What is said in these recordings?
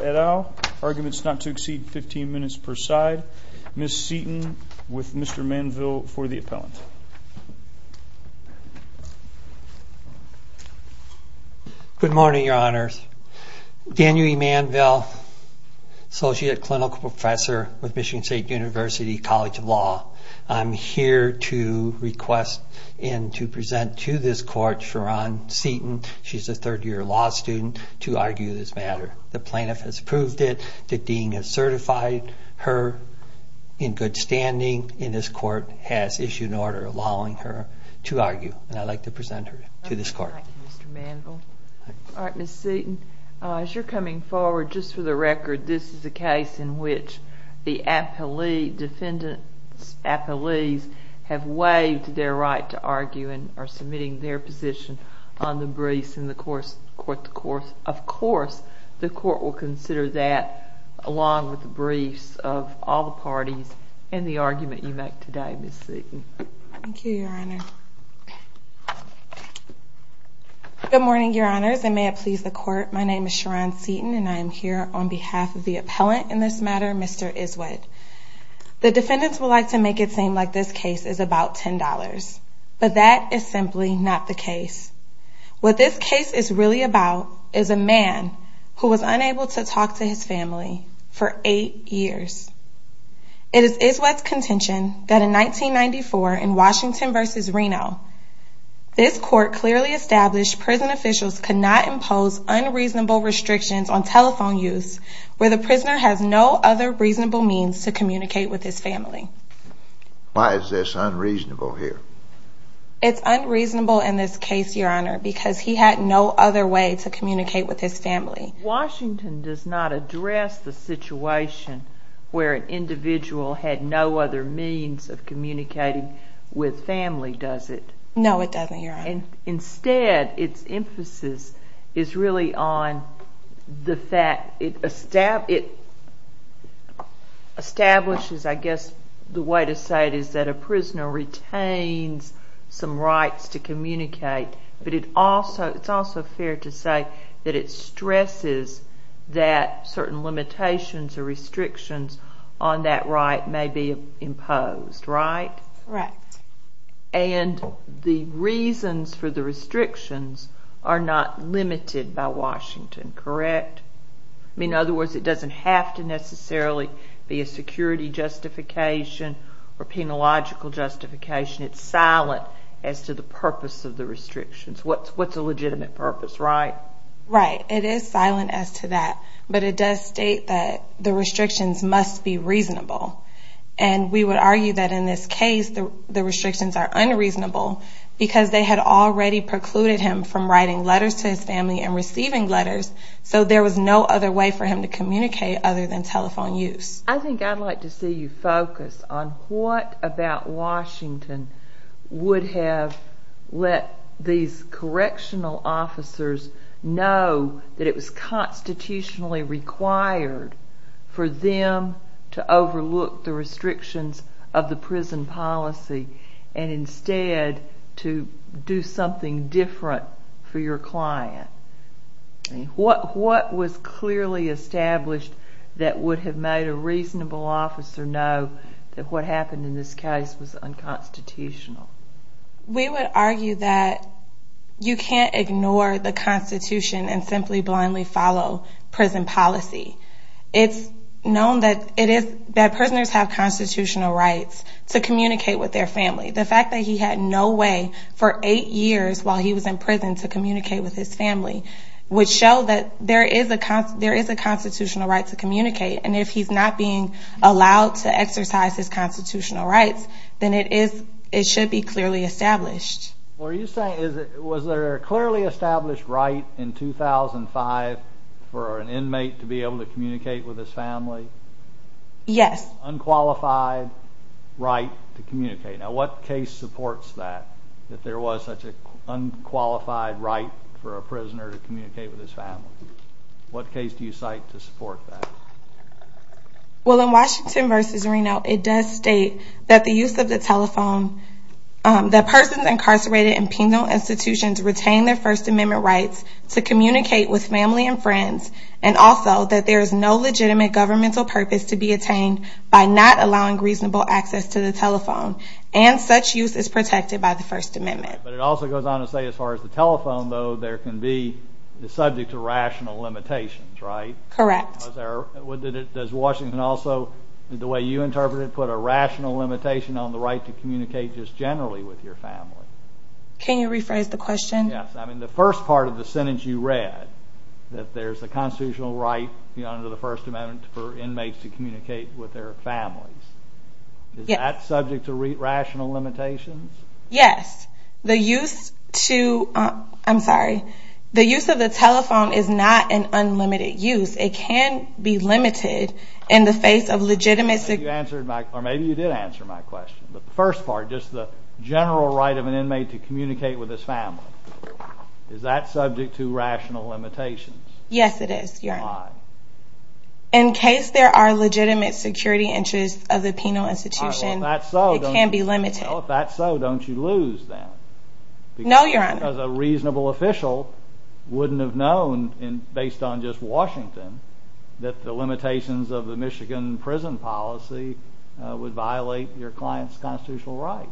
et al. Arguments not to exceed 15 minutes per side. Ms. Seaton, with Mr. Manville for the appellant. Good morning, your honors. Daniel E. Manville, associate clinical professor with Michigan State University College of Law. I'm here to request and to present to this court Ms. Seaton, she's a third year law student, to argue this matter. The plaintiff has approved it, the dean has certified her in good standing, and this court has issued an order allowing her to argue. I'd like to present her to this court. Thank you, Mr. Manville. All right, Ms. Seaton, as you're coming forward, just for the record, this is a case in which the defendant's appellees have waived their right to argue and are submitting their position on the briefs in the court. Of course, the court will consider that along with the briefs of all the parties in the argument you make today, Ms. Seaton. Thank you, your honor. Good morning, your honors, and may it please the court, my name is Sharron Seaton and I am here on behalf of the appellant in this matter, Mr. Iswet. The defendants would like to make it seem like this case is about $10, but that is simply not the case. What this case is really about is a man who was unable to talk to his family for eight years. It is Iswet's contention that in 1994 in Washington v. Reno, this court clearly established prison officials could not impose unreasonable restrictions on telephone use where the prisoner has no other reasonable means to communicate with his family. Why is this unreasonable here? It's unreasonable in this case, your honor, because he had no other way to communicate with his family. Washington does not address the situation where an individual had no other means of communicating with family, does it? No, it doesn't, your honor. that certain limitations or restrictions on that right may be imposed, right? Right. And the reasons for the restrictions are not limited by Washington, correct? In other words, it doesn't have to necessarily be a security justification or a penological justification. It's silent as to the purpose of the restrictions. What's a legitimate purpose, right? Right. It is silent as to that, but it does state that the restrictions must be reasonable. And we would argue that in this case, the restrictions are unreasonable because they had already precluded him from writing letters to his family and receiving letters, so there was no other way for him to communicate other than telephone use. I think I'd like to see you focus on what about Washington would have let these correctional officers know that it was constitutionally required for them to overlook the restrictions of the prison policy and instead to do something different for your client. What was clearly established that would have made a reasonable officer know that what happened in this case was unconstitutional? We would argue that you can't ignore the Constitution and simply blindly follow prison policy. It's known that prisoners have constitutional rights to communicate with their family. The fact that he had no way for eight years while he was in prison to communicate with his family would show that there is a constitutional right to communicate. And if he's not being allowed to exercise his constitutional rights, then it should be clearly established. Was there a clearly established right in 2005 for an inmate to be able to communicate with his family? Yes. Unqualified right to communicate. Now what case supports that? That there was such an unqualified right for a prisoner to communicate with his family? What case do you cite to support that? Well in Washington v. Reno, it does state that the use of the telephone, that persons incarcerated in penal institutions retain their First Amendment rights to communicate with family and friends and also that there is no legitimate governmental purpose to be attained by not allowing reasonable access to the telephone and such use is protected by the First Amendment. But it also goes on to say as far as the telephone, though, there can be subject to rational limitations, right? Correct. Does Washington also, the way you interpret it, put a rational limitation on the right to communicate just generally with your family? Can you rephrase the question? Yes. I mean the first part of the sentence you read, that there's a constitutional right under the First Amendment for inmates to communicate with their families. Is that subject to rational limitations? Yes. The use of the telephone is not an unlimited use. It can be limited in the face of legitimate... Maybe you did answer my question. The first part, just the general right of an inmate to communicate with his family. Is that subject to rational limitations? Yes, it is. Why? In case there are legitimate security interests of the penal institution, it can be limited. Well, if that's so, don't you lose then. No, Your Honor. Because a reasonable official wouldn't have known, based on just Washington, that the limitations of the Michigan prison policy would violate your client's constitutional rights.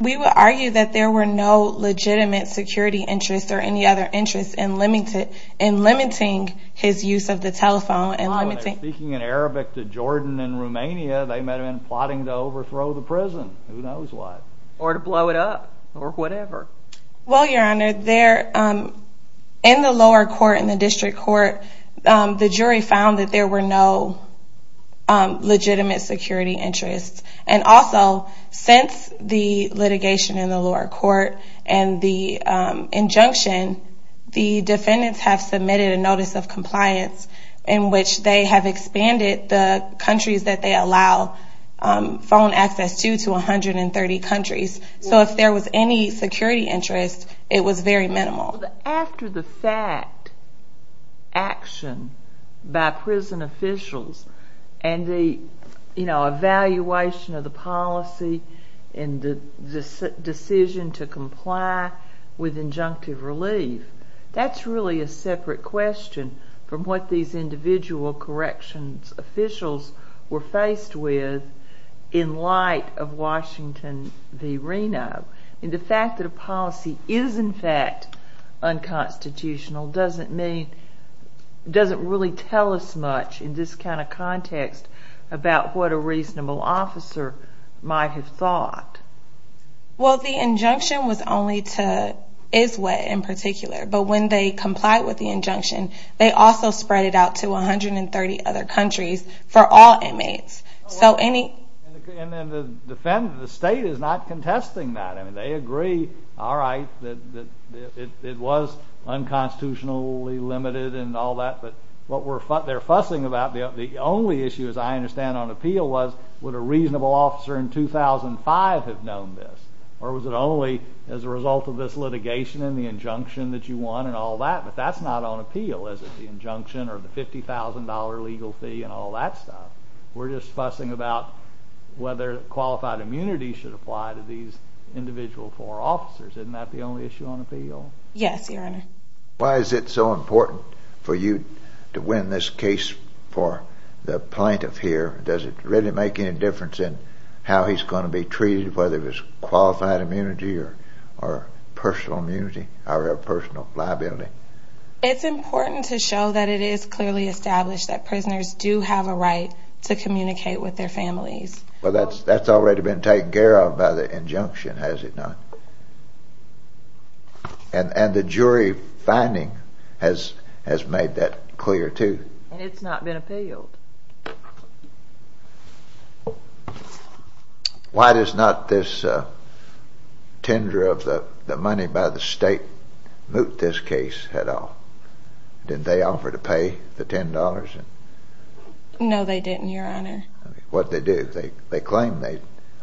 We would argue that there were no legitimate security interests or any other interests in limiting his use of the telephone. Speaking in Arabic to Jordan and Romania, they might have been plotting to overthrow the prison. Who knows what. Or to blow it up. Or whatever. Well, Your Honor, in the lower court, in the district court, the jury found that there were no legitimate security interests. And also, since the litigation in the lower court and the injunction, the defendants have submitted a notice of compliance in which they have expanded the countries that they allow phone access to to 130 countries. So if there was any security interest, it was very minimal. After the fact action by prison officials and the evaluation of the policy and the decision to comply with injunctive relief, that's really a separate question from what these individual corrections officials were faced with in light of Washington v. Reno. And the fact that a policy is in fact unconstitutional doesn't mean, doesn't really tell us much in this kind of context about what a reasonable officer might have thought. Well, the injunction was only to Iswha in particular. But when they complied with the injunction, they also spread it out to 130 other countries for all inmates. And the state is not contesting that. I mean, they agree, all right, that it was unconstitutionally limited and all that. But what they're fussing about, the only issue as I understand on appeal, was would a reasonable officer in 2005 have known this? Or was it only as a result of this litigation and the injunction that you won and all that? But that's not on appeal, is it? The injunction or the $50,000 legal fee and all that stuff. We're just fussing about whether qualified immunity should apply to these individual four officers. Isn't that the only issue on appeal? Yes, Your Honor. Why is it so important for you to win this case for the plaintiff here? Does it really make any difference in how he's going to be treated, whether it's qualified immunity or personal immunity or personal liability? It's important to show that it is clearly established that prisoners do have a right to communicate with their families. Well, that's already been taken care of by the injunction, has it not? And the jury finding has made that clear, too. And it's not been appealed. Why does not this tender of the money by the state moot this case at all? Didn't they offer to pay the $10? No, they didn't, Your Honor. What did they do? They claimed they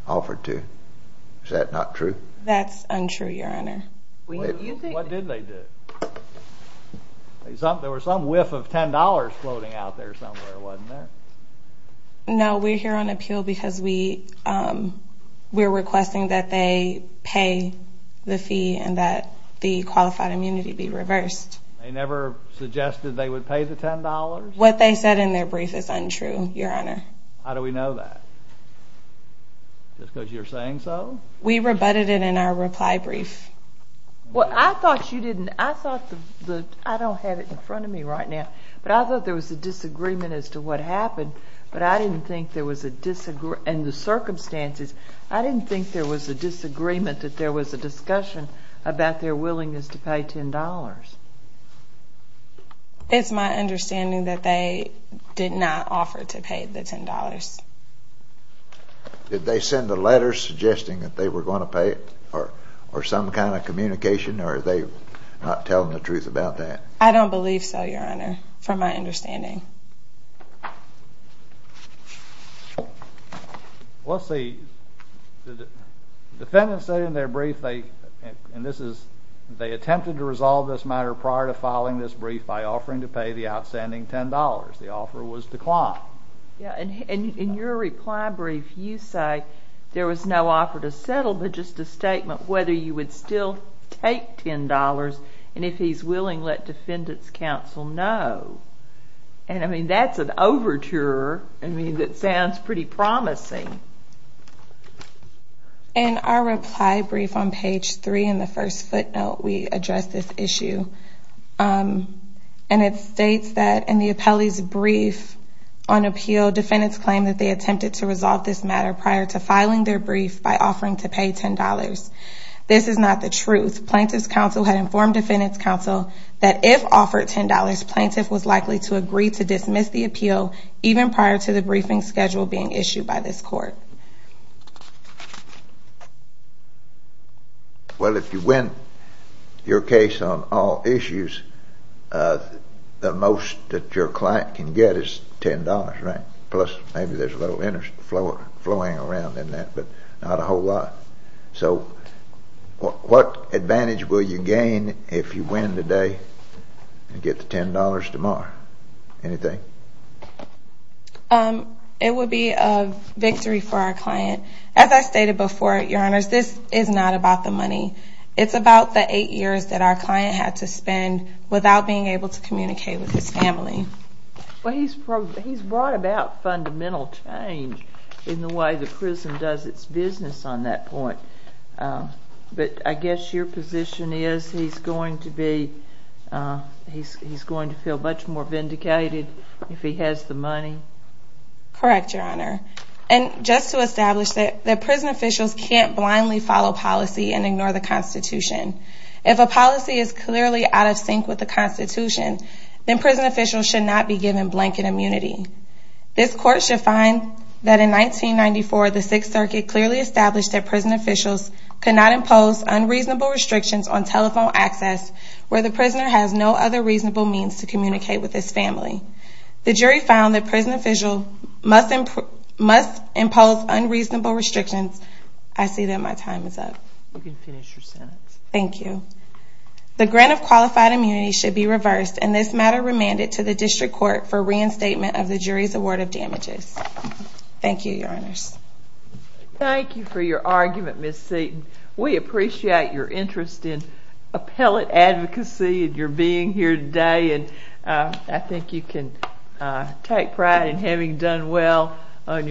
offered to. Is that not true? That's untrue, Your Honor. What did they do? There was some whiff of $10 floating out there somewhere, wasn't there? No, we're here on appeal because we're requesting that they pay the fee and that the qualified immunity be reversed. They never suggested they would pay the $10? What they said in their brief is untrue, Your Honor. How do we know that? Just because you're saying so? We rebutted it in our reply brief. Well, I thought you didn't. I don't have it in front of me right now. But I thought there was a disagreement as to what happened, and the circumstances. I didn't think there was a disagreement that there was a discussion about their willingness to pay $10. It's my understanding that they did not offer to pay the $10. Did they send a letter suggesting that they were going to pay it, or some kind of communication, or are they not telling the truth about that? I don't believe so, Your Honor, from my understanding. Well, see, the defendants said in their brief they attempted to resolve this matter prior to filing this brief by offering to pay the outstanding $10. The offer was declined. And in your reply brief, you say there was no offer to settle, but just a statement whether you would still take $10, and if he's willing, let defendants counsel know. And, I mean, that's an overture that sounds pretty promising. In our reply brief on page 3 in the first footnote, we address this issue. And it states that in the appellee's brief on appeal, defendants claim that they attempted to resolve this matter prior to filing their brief by offering to pay $10. This is not the truth. Plaintiff's counsel had informed defendant's counsel that if offered $10, plaintiff was likely to agree to dismiss the appeal even prior to the briefing schedule being issued by this court. Well, if you win your case on all issues, the most that your client can get is $10, right? Plus maybe there's a little interest flowing around in that, but not a whole lot. So what advantage will you gain if you win today and get the $10 tomorrow? Anything? It would be a victory for our client. As I stated before, Your Honors, this is not about the money. It's about the eight years that our client had to spend without being able to communicate with his family. Well, he's brought about fundamental change in the way the prison does its business on that point. But I guess your position is he's going to feel much more vindicated if he has the money? Correct, Your Honor. And just to establish that prison officials can't blindly follow policy and ignore the Constitution. If a policy is clearly out of sync with the Constitution, then prison officials should not be given blanket immunity. This court should find that in 1994, the Sixth Circuit clearly established that prison officials could not impose unreasonable restrictions on telephone access where the prisoner has no other reasonable means to communicate with his family. The jury found that prison officials must impose unreasonable restrictions. I see that my time is up. You can finish your sentence. Thank you. The grant of qualified immunity should be reversed, and this matter remanded to the District Court for reinstatement of the jury's award of damages. Thank you, Your Honors. Thank you for your argument, Ms. Seaton. We appreciate your interest in appellate advocacy and your being here today, and I think you can take pride in having done well on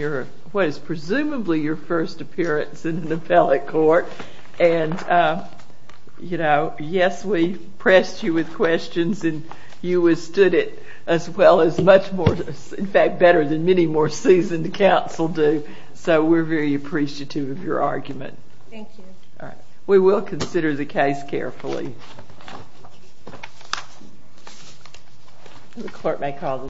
what is presumably your first appearance in an appellate court. And, you know, yes, we pressed you with questions, and you withstood it as well as much more, in fact, better than many more seasoned counsel do, so we're very appreciative of your argument. Thank you. We will consider the case carefully.